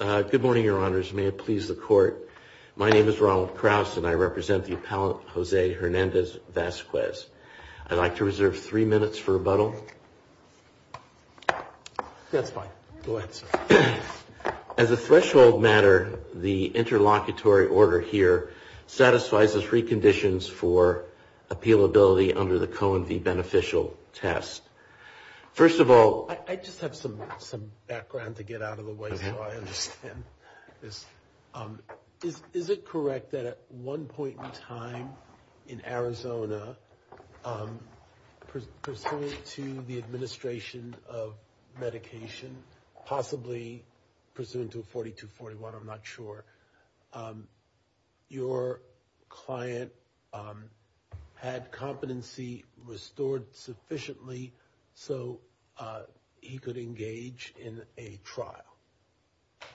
Good morning, Your Honors. May it please the Court, my name is Ronald Kraus and I represent the appellant Jose Hernandez-Vasquez. I'd like to reserve three minutes for rebuttal. That's fine. Go ahead, sir. As a threshold matter, the interlocutory order here satisfies the three conditions for appealability under the Cohen v. Beneficial test. First of all... I just have some background to get out of the way so I understand this. Is it correct that at one point in time in Arizona, pursuant to the administration of medication, possibly pursuant to 4241, I'm not sure, your client had competency restored sufficiently so he could engage in a trial?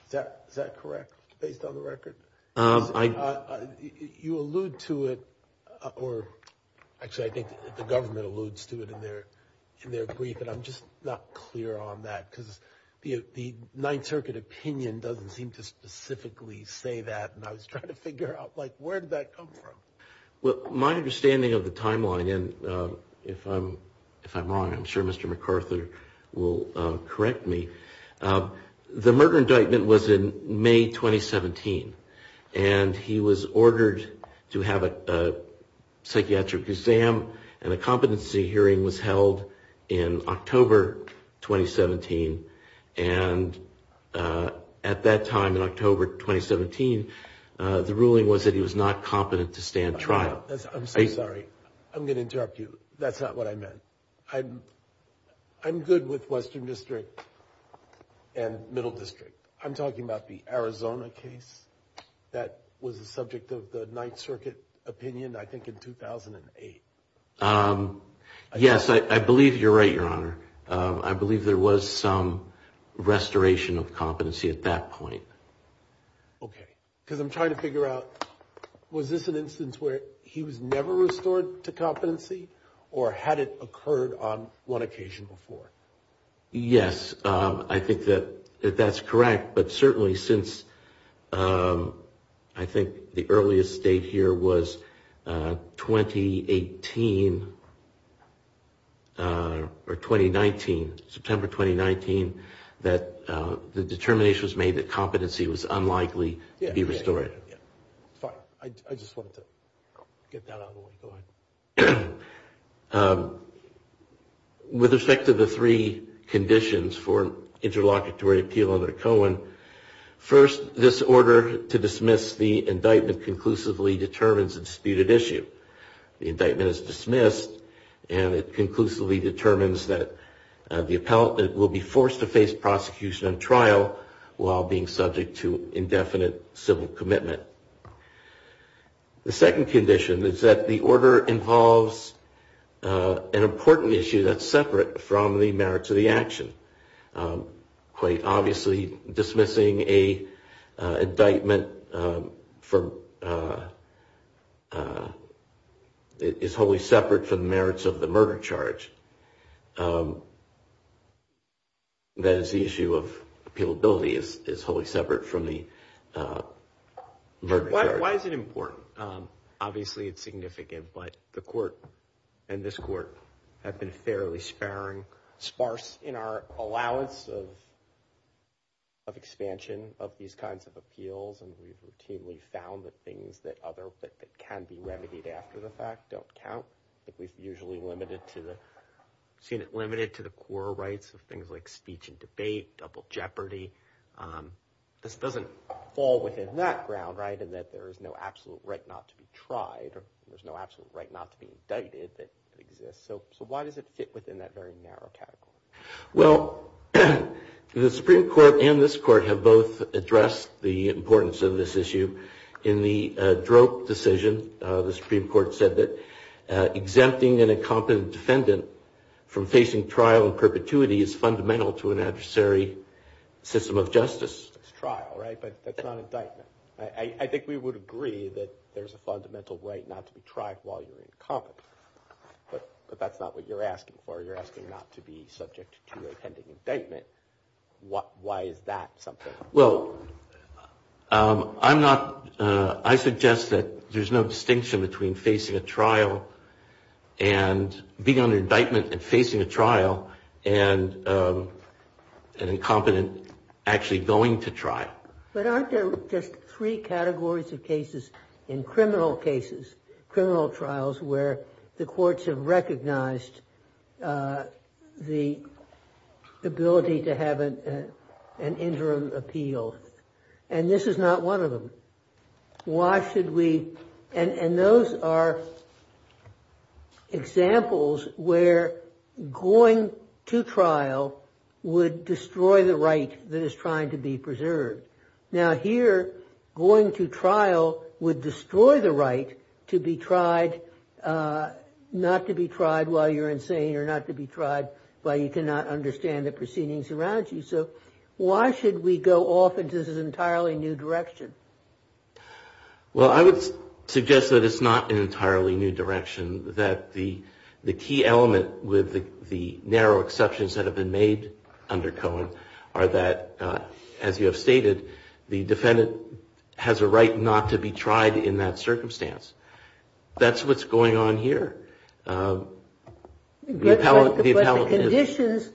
Is that correct, based on the record? You allude to it, or actually I think the government alludes to it in their brief, and I'm just not clear on that because the Ninth Circuit opinion doesn't seem to specifically say that, and I was trying to figure out, like, where did that come from? Well, my understanding of the timeline, and if I'm wrong, I'm sure Mr. McArthur will correct me. The murder indictment was in May 2017, and he was ordered to have a psychiatric exam, and a competency hearing was held in October 2017, and at that time, in October 2017, the ruling was that he was not competent to stand trial. I'm so sorry. I'm going to interrupt you. That's not what I meant. I'm good with Western District and Middle District. I'm talking about the Arizona case that was the subject of the Ninth Circuit opinion, I think, in 2008. Yes, I believe you're right, Your Honor. I believe there was some restoration of competency at that point. Okay, because I'm trying to figure out, was this an instance where he was never restored to competency, or had it occurred on one occasion before? Yes, I think that that's correct, but certainly since I think the earliest date here was 2018 or 2019, September 2019, that the determination was made that competency was unlikely to be restored. Fine. I just wanted to get that out of the way. Go ahead. With respect to the three conditions for interlocutory appeal under Cohen, first, this order to dismiss the indictment conclusively determines a disputed issue. The indictment is dismissed, and it conclusively determines that the appellate will be forced to face prosecution and trial while being subject to indefinite civil commitment. The second condition is that the order involves an important issue that's separate from the merits of the action. Quite obviously, dismissing an indictment is wholly separate from the merits of the murder charge. That is, the issue of appealability is wholly separate from the murder charge. Why is it important? Obviously, it's significant, but the court and this court have been fairly sparing, sparse in our allowance of expansion of these kinds of appeals, and we've routinely found that things that can be remedied after the fact don't count. We've usually seen it limited to the core rights of things like speech and debate, double jeopardy. This doesn't fall within that ground, right, in that there is no absolute right not to be tried or there's no absolute right not to be indicted that exists. So why does it fit within that very narrow category? Well, the Supreme Court and this court have both addressed the importance of this issue. In the Droke decision, the Supreme Court said that exempting an incompetent defendant from facing trial and perpetuity is fundamental to an adversary system of justice. It's trial, right, but that's not indictment. I think we would agree that there's a fundamental right not to be tried while you're incompetent, but that's not what you're asking for. You're asking not to be subject to a pending indictment. Why is that something? Well, I'm not – I suggest that there's no distinction between facing a trial and being on an indictment and facing a trial and an incompetent actually going to trial. But aren't there just three categories of cases in criminal cases, criminal trials, where the courts have recognized the ability to have an interim appeal? And this is not one of them. Why should we – and those are examples where going to trial would destroy the right that is trying to be preserved. Now here, going to trial would destroy the right to be tried – not to be tried while you're insane or not to be tried while you cannot understand the proceedings around you. So why should we go off into this entirely new direction? Well, I would suggest that it's not an entirely new direction, that the key element with the narrow exceptions that have been made under Cohen are that, as you have stated, the defendant has a right not to be tried in that circumstance. That's what's going on here. But the conditions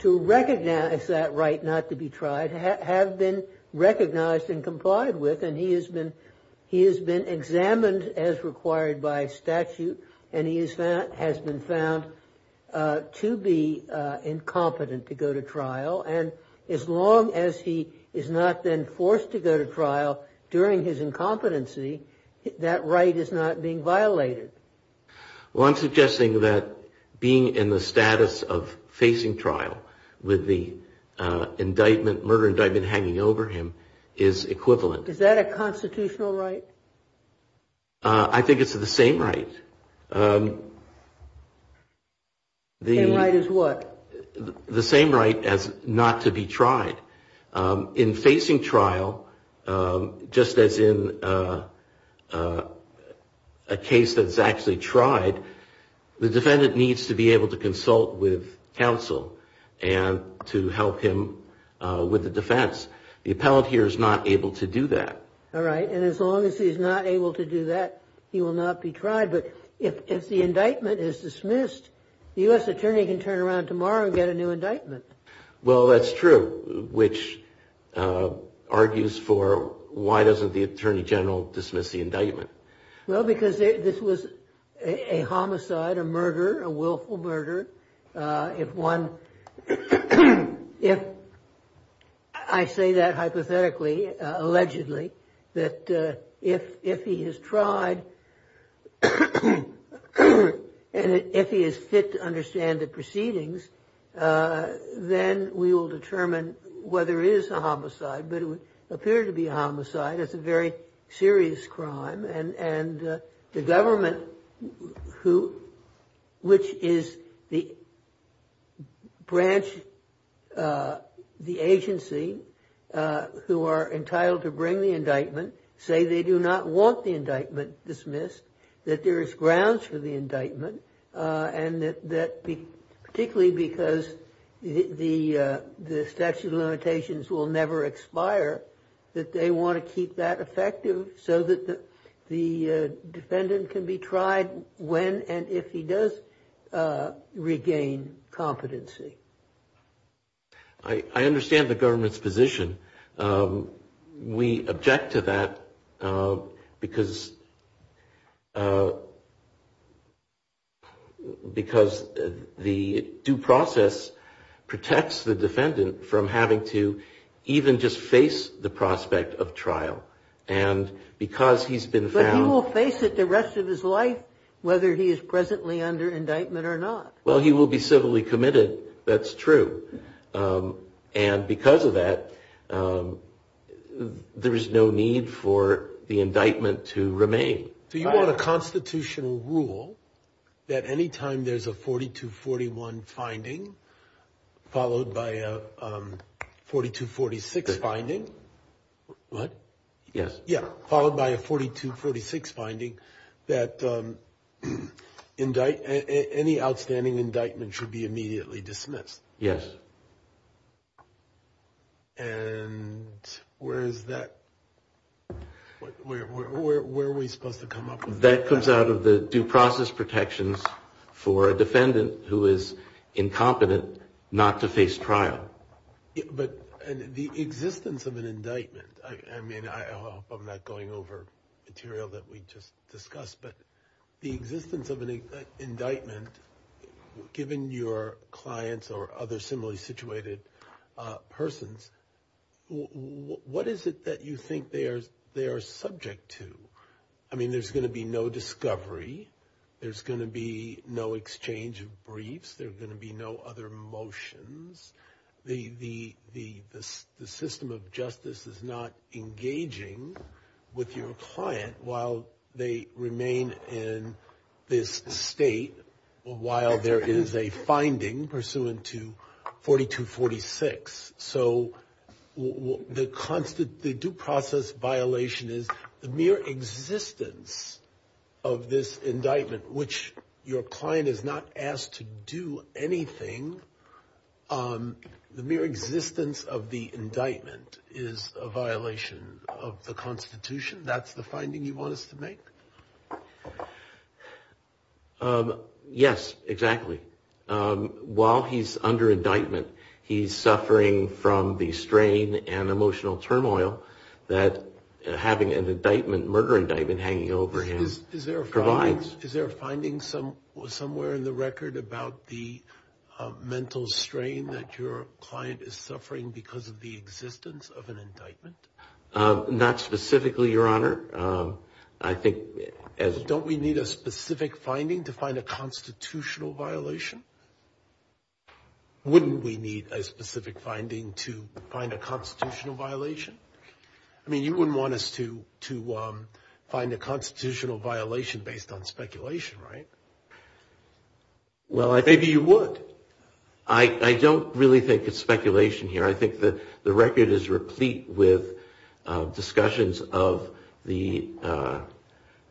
to recognize that right not to be tried have been recognized and complied with, and he has been examined as required by statute, and he has been found to be incompetent to go to trial. And as long as he is not then forced to go to trial during his incompetency, that right is not being violated. Well, I'm suggesting that being in the status of facing trial with the murder indictment hanging over him is equivalent. Is that a constitutional right? I think it's the same right. The same right as what? The same right as not to be tried. In facing trial, just as in a case that's actually tried, the defendant needs to be able to consult with counsel and to help him with the defense. The appellant here is not able to do that. All right. And as long as he's not able to do that, he will not be tried. But if the indictment is dismissed, the U.S. attorney can turn around tomorrow and get a new indictment. Well, that's true, which argues for why doesn't the attorney general dismiss the indictment? Well, because this was a homicide, a murder, a willful murder. If one, if I say that hypothetically, allegedly, that if he has tried and if he is fit to understand the proceedings, then we will determine whether it is a homicide. But it would appear to be a homicide. It's a very serious crime. And the government, which is the branch, the agency, who are entitled to bring the indictment, say they do not want the indictment dismissed, that there is grounds for the indictment, and that particularly because the statute of limitations will never expire, that they want to keep that effective so that the defendant can be tried when and if he does regain competency. I understand the government's position. We object to that because the due process protects the defendant from having to even just face the prospect of trial. But he will face it the rest of his life, whether he is presently under indictment or not. Well, he will be civilly committed. That's true. And because of that, there is no need for the indictment to remain. Do you want a constitutional rule that any time there's a 4241 finding followed by a 4246 finding? What? Yes. Yeah, followed by a 4246 finding, that any outstanding indictment should be immediately dismissed? Yes. And where is that? Where are we supposed to come up with that? That comes out of the due process protections for a defendant who is incompetent not to face trial. But the existence of an indictment, I mean, I hope I'm not going over material that we just discussed, but the existence of an indictment, given your clients or other similarly situated persons, what is it that you think they are subject to? I mean, there's going to be no discovery. There's going to be no exchange of briefs. There are going to be no other motions. The system of justice is not engaging with your client while they remain in this state, while there is a finding pursuant to 4246. So the due process violation is the mere existence of this indictment, which your client is not asked to do anything. The mere existence of the indictment is a violation of the Constitution. That's the finding you want us to make? Yes, exactly. While he's under indictment, he's suffering from the strain and emotional turmoil that having an indictment, murder indictment hanging over him provides. Is there a finding somewhere in the record about the mental strain that your client is suffering because of the existence of an indictment? Not specifically, Your Honor. Don't we need a specific finding to find a constitutional violation? Wouldn't we need a specific finding to find a constitutional violation? I mean, you wouldn't want us to find a constitutional violation based on speculation, right? Maybe you would. I don't really think it's speculation here. I think the record is replete with discussions of the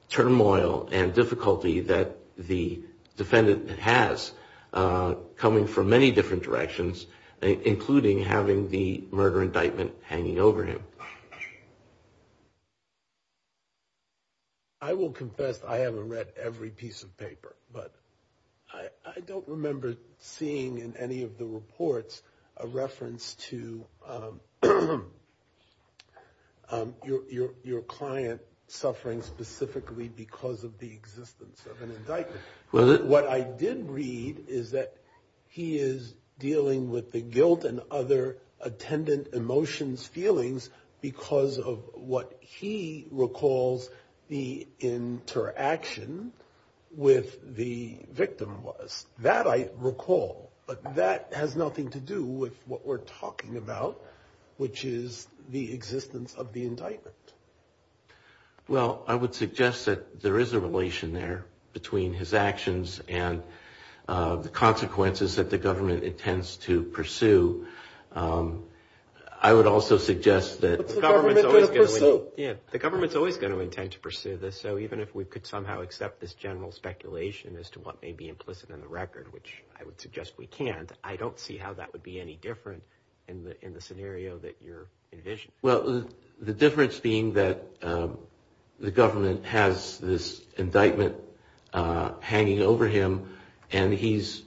turmoil and difficulty that the defendant has, coming from many different directions, including having the murder indictment hanging over him. I will confess I haven't read every piece of paper, but I don't remember seeing in any of the reports a reference to your client suffering specifically because of the existence of an indictment. What I did read is that he is dealing with the guilt and other attendant emotions, feelings, because of what he recalls the interaction with the victim was. That I recall, but that has nothing to do with what we're talking about, which is the existence of the indictment. Well, I would suggest that there is a relation there between his actions and the consequences that the government intends to pursue. I would also suggest that the government's always going to intend to pursue this. So even if we could somehow accept this general speculation as to what may be implicit in the record, which I would suggest we can't, I don't see how that would be any different in the scenario that you're envisioning. Well, the difference being that the government has this indictment hanging over him and he's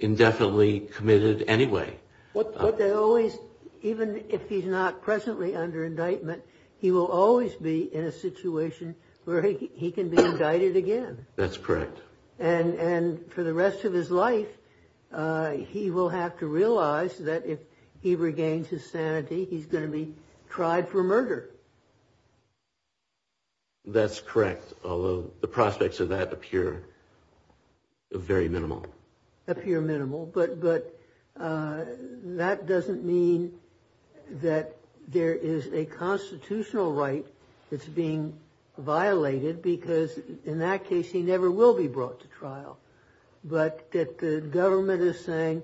indefinitely committed anyway. But they always, even if he's not presently under indictment, he will always be in a situation where he can be indicted again. That's correct. And for the rest of his life, he will have to realize that if he regains his sanity, he's going to be tried for murder. That's correct, although the prospects of that appear very minimal. Appear minimal. But that doesn't mean that there is a constitutional right that's being violated because in that case he never will be brought to trial. But that the government is saying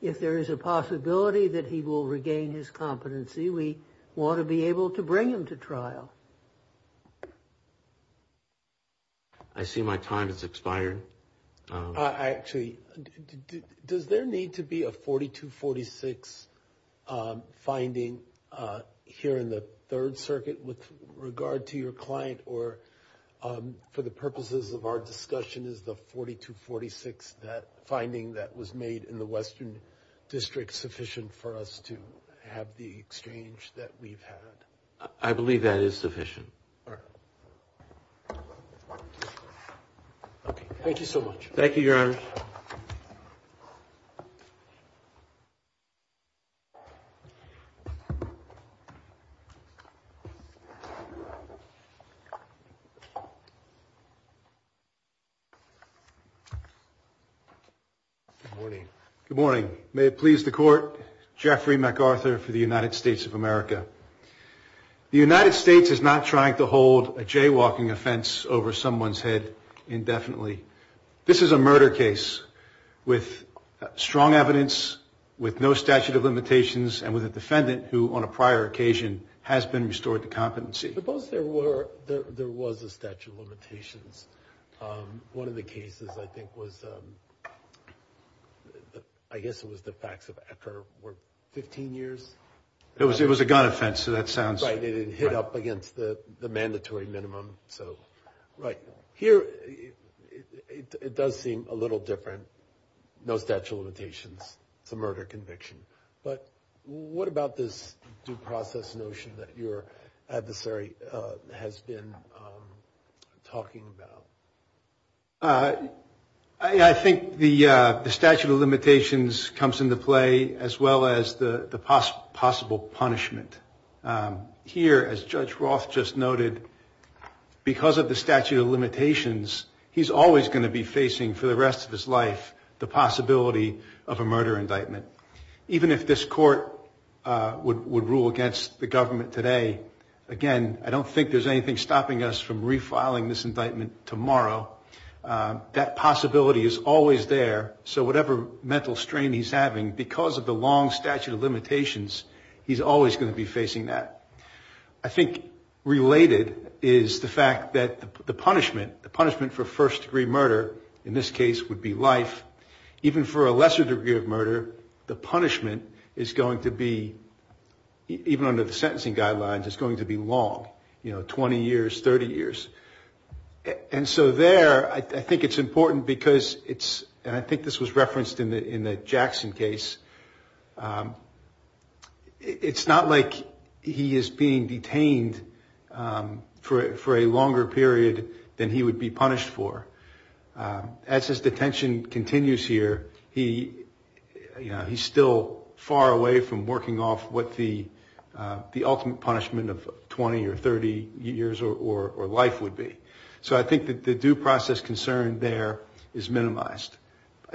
if there is a possibility that he will regain his competency, we want to be able to bring him to trial. I see my time has expired. Actually, does there need to be a 4246 finding here in the Third Circuit with regard to your client or for the purposes of our discussion is the 4246 finding that was made in the Western District sufficient for us to have the exchange that we've had? I believe that is sufficient. All right. Thank you so much. Thank you, Your Honor. Good morning. Good morning. May it please the Court, Jeffrey MacArthur for the United States of America. The United States is not trying to hold a jaywalking offense over someone's head indefinitely. This is a murder case with strong evidence, with no statute of limitations, and with a defendant who on a prior occasion has been restored to competency. Suppose there was a statute of limitations. One of the cases I think was, I guess it was the facts of after 15 years. It was a gun offense, so that sounds right. It hit up against the mandatory minimum. Right. Here it does seem a little different, no statute of limitations. It's a murder conviction. But what about this due process notion that your adversary has been talking about? I think the statute of limitations comes into play as well as the possible punishment. Here, as Judge Roth just noted, because of the statute of limitations, he's always going to be facing for the rest of his life the possibility of a murder indictment. Even if this Court would rule against the government today, again, I don't think there's anything stopping us from refiling this indictment tomorrow. That possibility is always there. So whatever mental strain he's having, because of the long statute of limitations, he's always going to be facing that. I think related is the fact that the punishment, the punishment for first-degree murder, in this case would be life. Even for a lesser degree of murder, the punishment is going to be, even under the sentencing guidelines, it's going to be long, you know, 20 years, 30 years. And so there, I think it's important because it's, and I think this was referenced in the Jackson case, it's not like he is being detained for a longer period than he would be punished for. As his detention continues here, he, you know, he's still far away from working off what the ultimate punishment of 20 or 30 years or life would be. So I think that the due process concern there is minimized.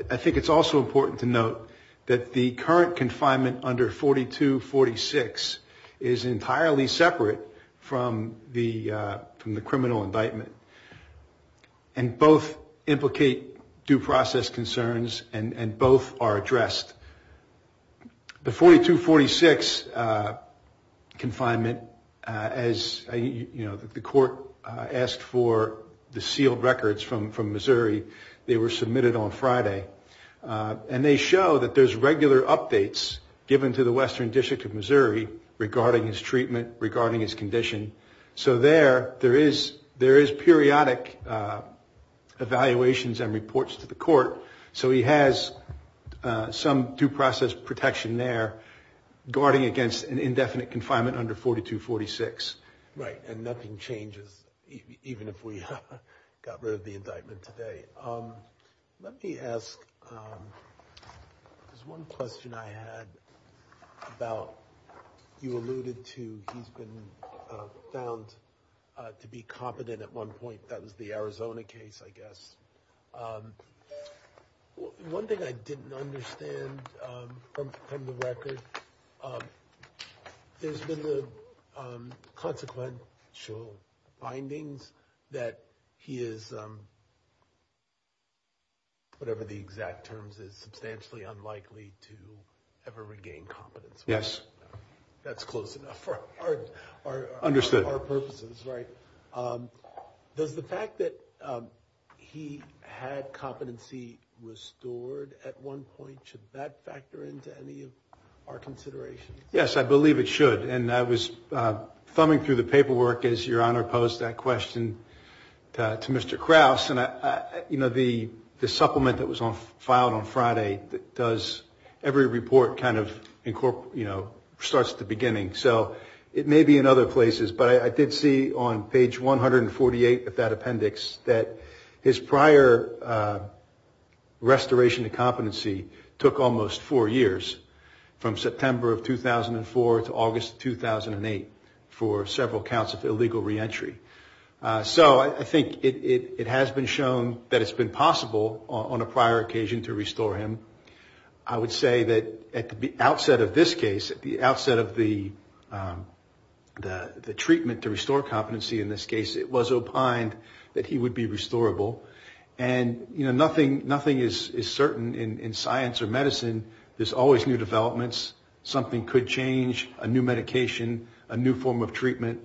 I think it's also important to note that the current confinement under 4246 is entirely separate from the criminal indictment. And both implicate due process concerns and both are addressed. The 4246 confinement, as the court asked for the sealed records from Missouri, they were submitted on Friday. And they show that there's regular updates given to the Western District of Missouri regarding his treatment, regarding his condition. So there, there is periodic evaluations and reports to the court. So he has some due process protection there, guarding against an indefinite confinement under 4246. Right, and nothing changes, even if we got rid of the indictment today. Let me ask, there's one question I had about, you alluded to he's been found to be competent at one point. That was the Arizona case, I guess. One thing I didn't understand from the record, there's been the consequential findings that he is, whatever the exact terms is, substantially unlikely to ever regain competence. Yes. That's close enough for our purposes, right? Understood. Does the fact that he had competency restored at one point, should that factor into any of our considerations? Yes, I believe it should. And I was thumbing through the paperwork as Your Honor posed that question to Mr. Krause. And, you know, the supplement that was filed on Friday does, every report kind of, you know, starts at the beginning. So it may be in other places, but I did see on page 148 of that appendix that his prior restoration of competency took almost four years, from September of 2004 to August of 2008, for several counts of illegal reentry. So I think it has been shown that it's been possible on a prior occasion to restore him. I would say that at the outset of this case, at the outset of the treatment to restore competency in this case, it was opined that he would be restorable. And, you know, nothing is certain in science or medicine, there's always new developments, something could change, a new medication, a new form of treatment.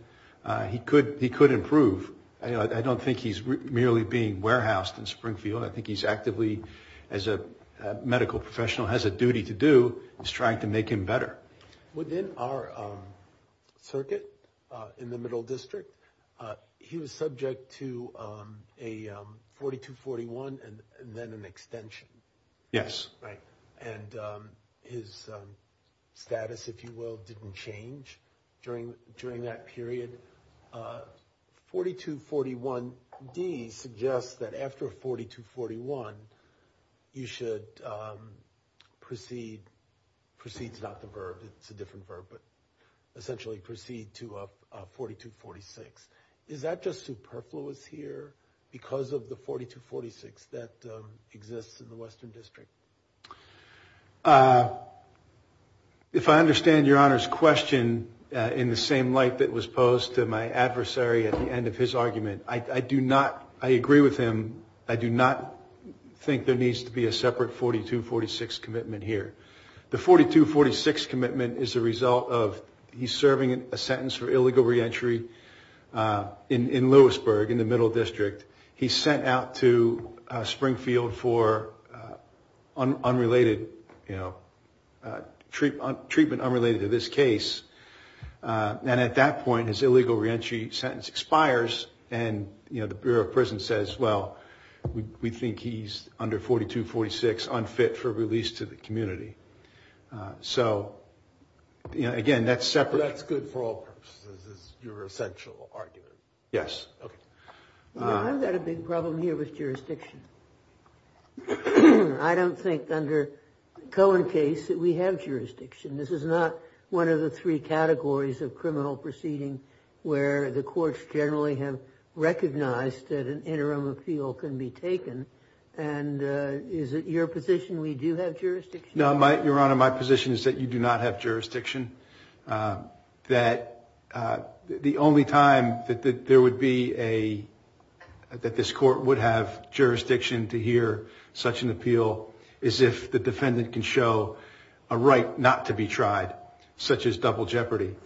He could improve. I don't think he's merely being warehoused in Springfield. I think he's actively, as a medical professional has a duty to do, is trying to make him better. Within our circuit in the Middle District, he was subject to a 4241 and then an extension. Yes. Right. And his status, if you will, didn't change during that period. 4241D suggests that after 4241, you should proceed, proceed is not the verb, it's a different verb, but essentially proceed to a 4246. Is that just superfluous here because of the 4246 that exists in the Western District? If I understand Your Honor's question in the same light that was posed to my adversary at the end of his argument, I do not, I agree with him, I do not think there needs to be a separate 4246 commitment here. The 4246 commitment is a result of he's serving a sentence for illegal reentry in Lewisburg in the Middle District. He's sent out to Springfield for unrelated, you know, treatment unrelated to this case. And at that point, his illegal reentry sentence expires and, you know, the Bureau of Prison says, well, we think he's under 4246, unfit for release to the community. So, you know, again, that's separate. That's good for all purposes is your essential argument. Yes. Okay. I've got a big problem here with jurisdiction. I don't think under Cohen case that we have jurisdiction. This is not one of the three categories of criminal proceeding where the courts generally have recognized that an interim appeal can be taken. And is it your position we do have jurisdiction? No, Your Honor, my position is that you do not have jurisdiction. That the only time that this court would have jurisdiction to hear such an appeal is if the defendant can show a right not to be tried, such as double jeopardy.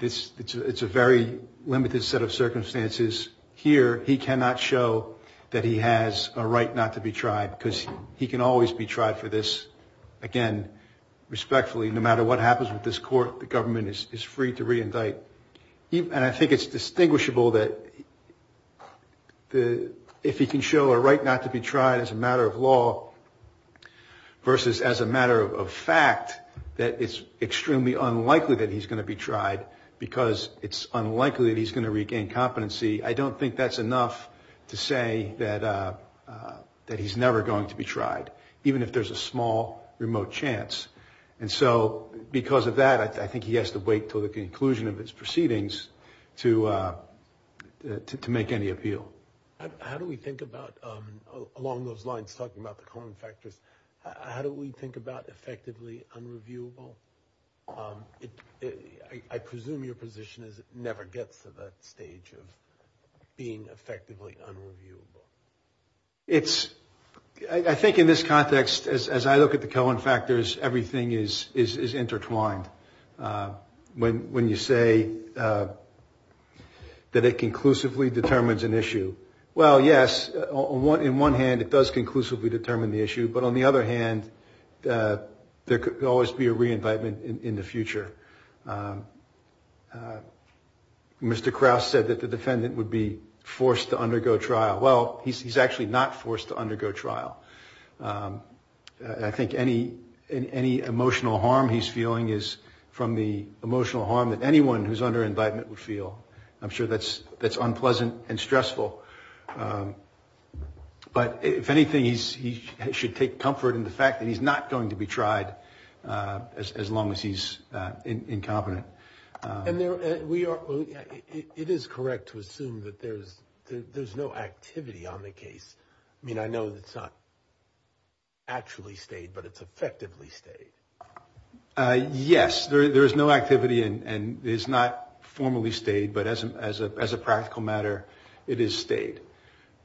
It's a very limited set of circumstances. Here, he cannot show that he has a right not to be tried because he can always be tried for this, again, respectfully, no matter what happens with this court, the government is free to reindict. And I think it's distinguishable that if he can show a right not to be tried as a matter of law versus as a matter of fact, that it's extremely unlikely that he's going to be tried because it's unlikely that he's going to regain competency. I don't think that's enough to say that he's never going to be tried, even if there's a small remote chance. And so, because of that, I think he has to wait until the conclusion of his proceedings to make any appeal. How do we think about, along those lines, talking about the Cohen factors, how do we think about effectively unreviewable? I presume your position is it never gets to that stage of being effectively unreviewable. I think in this context, as I look at the Cohen factors, everything is intertwined. When you say that it conclusively determines an issue, well, yes, in one hand, it does conclusively determine the issue, but on the other hand, there could always be a re-indictment in the future. Mr. Krause said that the defendant would be forced to undergo trial. Well, he's actually not forced to undergo trial. I think any emotional harm he's feeling is from the emotional harm that anyone who's under indictment would feel. I'm sure that's unpleasant and stressful. But if anything, he should take comfort in the fact that he's not going to be tried as long as he's incompetent. And it is correct to assume that there's no activity on the case. I mean, I know it's not actually stayed, but it's effectively stayed. Yes, there is no activity and it's not formally stayed, but as a practical matter, it is stayed.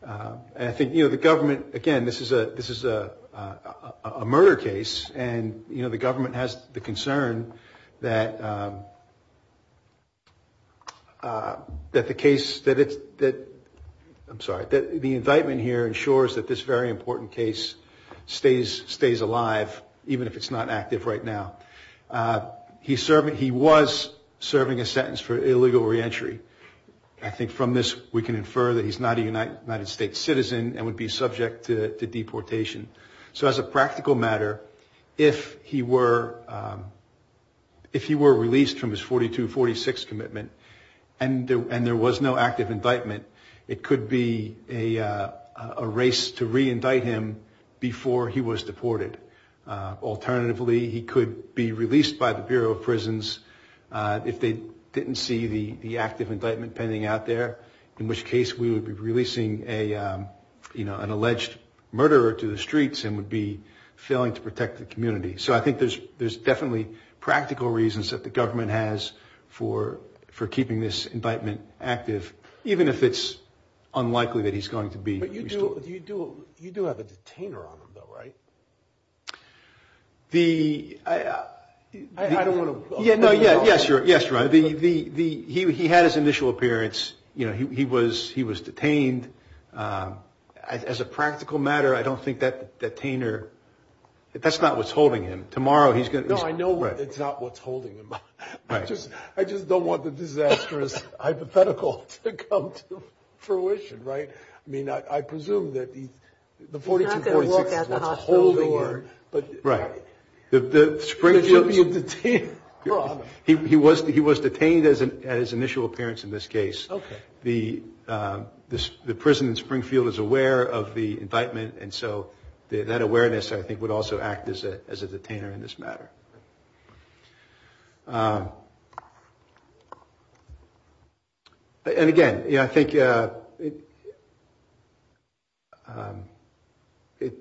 And I think, you know, the government, again, this is a murder case, and, you know, the government has the concern that the case, that it's, I'm sorry, that the indictment here ensures that this very important case stays alive, even if it's not active right now. He was serving a sentence for illegal reentry. I think from this we can infer that he's not a United States citizen and would be subject to deportation. So as a practical matter, if he were released from his 42-46 commitment and there was no active indictment, it could be a race to reindict him before he was deported. Alternatively, he could be released by the Bureau of Prisons if they didn't see the active indictment pending out there, in which case we would be releasing an alleged murderer to the streets and would be failing to protect the community. So I think there's definitely practical reasons that the government has for keeping this indictment active, even if it's unlikely that he's going to be released. But you do have a detainer on him, though, right? I don't want to – Yes, Ron. He had his initial appearance. You know, he was detained. As a practical matter, I don't think that detainer – that's not what's holding him. Tomorrow he's going to – No, I know it's not what's holding him. Right. I just don't want the disastrous hypothetical to come to fruition, right? I mean, I presume that the 42-46 is what's holding him. He's not going to walk out of the hospital. Right. He should be a detainer. He was detained at his initial appearance in this case. Okay. The prison in Springfield is aware of the indictment, and so that awareness, I think, would also act as a detainer in this matter. And, again, I think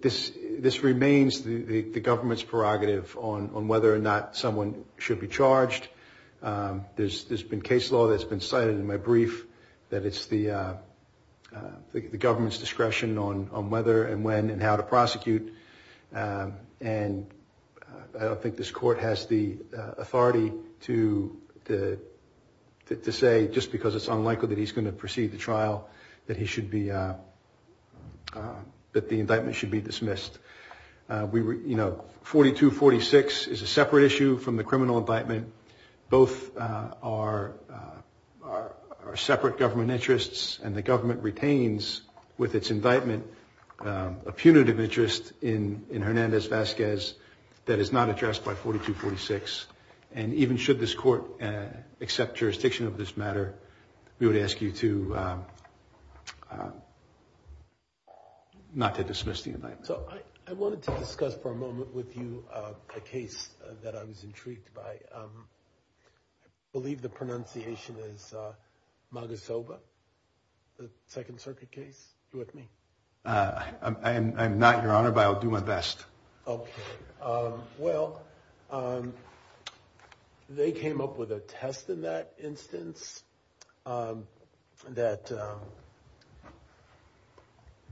this remains the government's prerogative on whether or not someone should be charged. There's been case law that's been cited in my brief that it's the government's discretion on whether and when and how to prosecute. And I don't think this court has the authority to say, just because it's unlikely that he's going to proceed to trial, that he should be – that the indictment should be dismissed. You know, 42-46 is a separate issue from the criminal indictment. Both are separate government interests, and the government retains with its indictment a punitive interest in Hernandez-Vasquez that is not addressed by 42-46. And even should this court accept jurisdiction of this matter, we would ask you to not to dismiss the indictment. So I wanted to discuss for a moment with you a case that I was intrigued by. I believe the pronunciation is Magasova, the Second Circuit case. Are you with me? I'm not, Your Honor, but I'll do my best. Okay. Well, they came up with a test in that instance that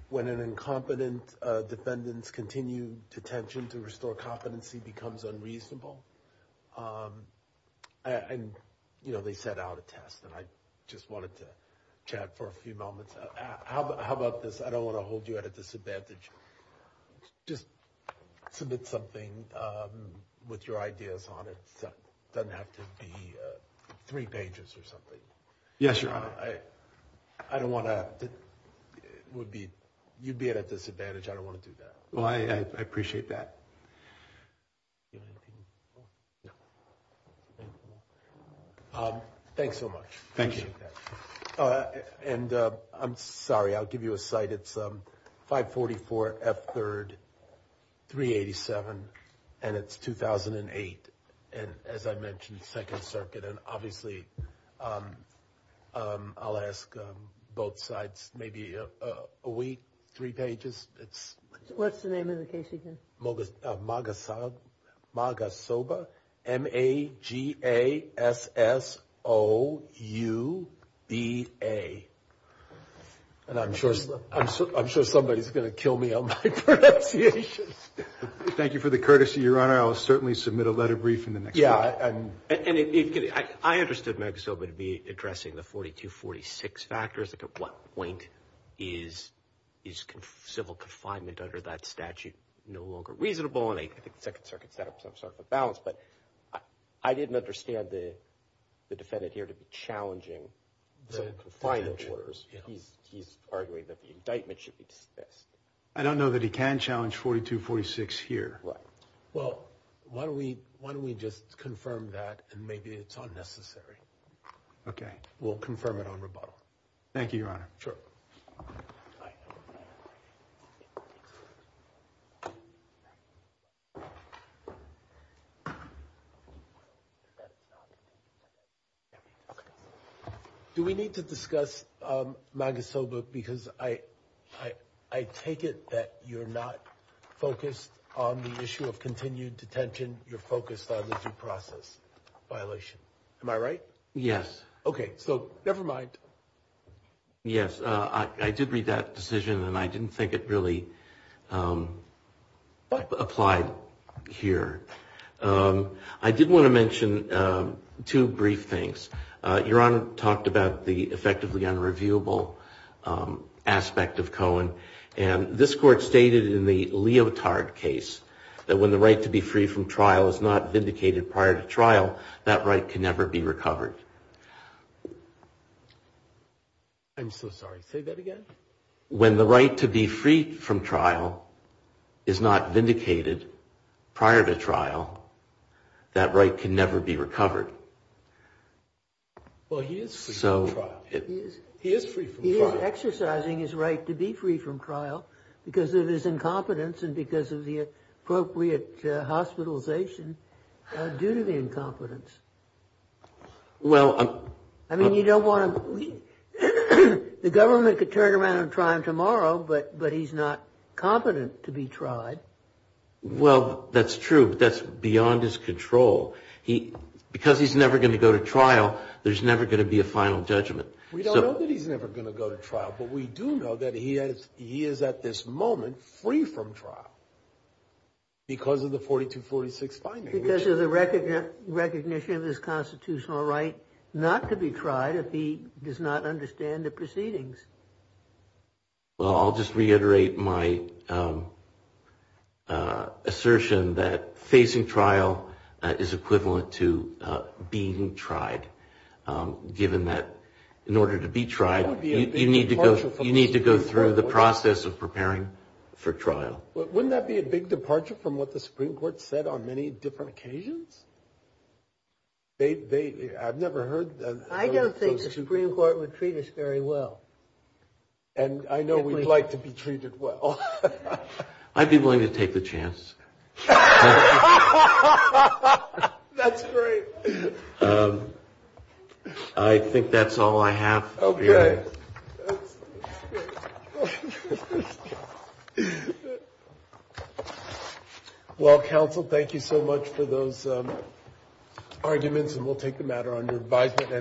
when an incompetent defendant's continued detention to restore competency becomes unreasonable. And, you know, they set out a test, and I just wanted to chat for a few moments. How about this? I don't want to hold you at a disadvantage. Just submit something with your ideas on it. It doesn't have to be three pages or something. Yes, Your Honor. I don't want to – it would be – you'd be at a disadvantage. I don't want to do that. Well, I appreciate that. Thanks so much. Thank you. And I'm sorry. I'll give you a site. It's 544 F. 3rd, 387, and it's 2008. And as I mentioned, Second Circuit. And obviously, I'll ask both sides maybe a week, three pages. What's the name of the case again? Magasoba, M-A-G-A-S-S-O-U-B-A. And I'm sure somebody's going to kill me on my pronunciation. Thank you for the courtesy, Your Honor. I'll certainly submit a letter brief in the next week. Yeah. I understood Magasoba to be addressing the 4246 factors. At what point is civil confinement under that statute no longer reasonable? And I think the Second Circuit set up some sort of a balance. But I didn't understand the defendant here to be challenging the confinement orders. He's arguing that the indictment should be dismissed. I don't know that he can challenge 4246 here. Right. Well, why don't we just confirm that, and maybe it's unnecessary. Okay. We'll confirm it on rebuttal. Thank you, Your Honor. Sure. Do we need to discuss Magasoba? Because I take it that you're not focused on the issue of continued detention. You're focused on the due process violation. Am I right? Yes. Okay. So never mind. Yes. I did read that decision, and I didn't think it really applied here. I did want to mention two brief things. Your Honor talked about the effectively unreviewable aspect of Cohen. And this Court stated in the Leotard case that when the right to be free from trial is not vindicated prior to trial, that right can never be recovered. I'm so sorry. Say that again. When the right to be free from trial is not vindicated prior to trial, that right can never be recovered. Well, he is free from trial. He is free from trial. He is exercising his right to be free from trial because of his incompetence and because of the appropriate hospitalization due to the incompetence. I mean, you don't want to – the government could turn around and try him tomorrow, but he's not competent to be tried. Well, that's true, but that's beyond his control. Because he's never going to go to trial, there's never going to be a final judgment. We don't know that he's never going to go to trial, but we do know that he is at this moment free from trial because of the 4246 finding. Because of the recognition of his constitutional right not to be tried if he does not understand the proceedings. Well, I'll just reiterate my assertion that facing trial is equivalent to being tried, given that in order to be tried, you need to go through the process of preparing for trial. Wouldn't that be a big departure from what the Supreme Court said on many different occasions? I've never heard that. I don't think the Supreme Court would treat us very well. And I know we'd like to be treated well. I'd be willing to take the chance. That's great. I think that's all I have. Okay. Well, counsel, thank you so much for those arguments, and we'll take the matter under advisement.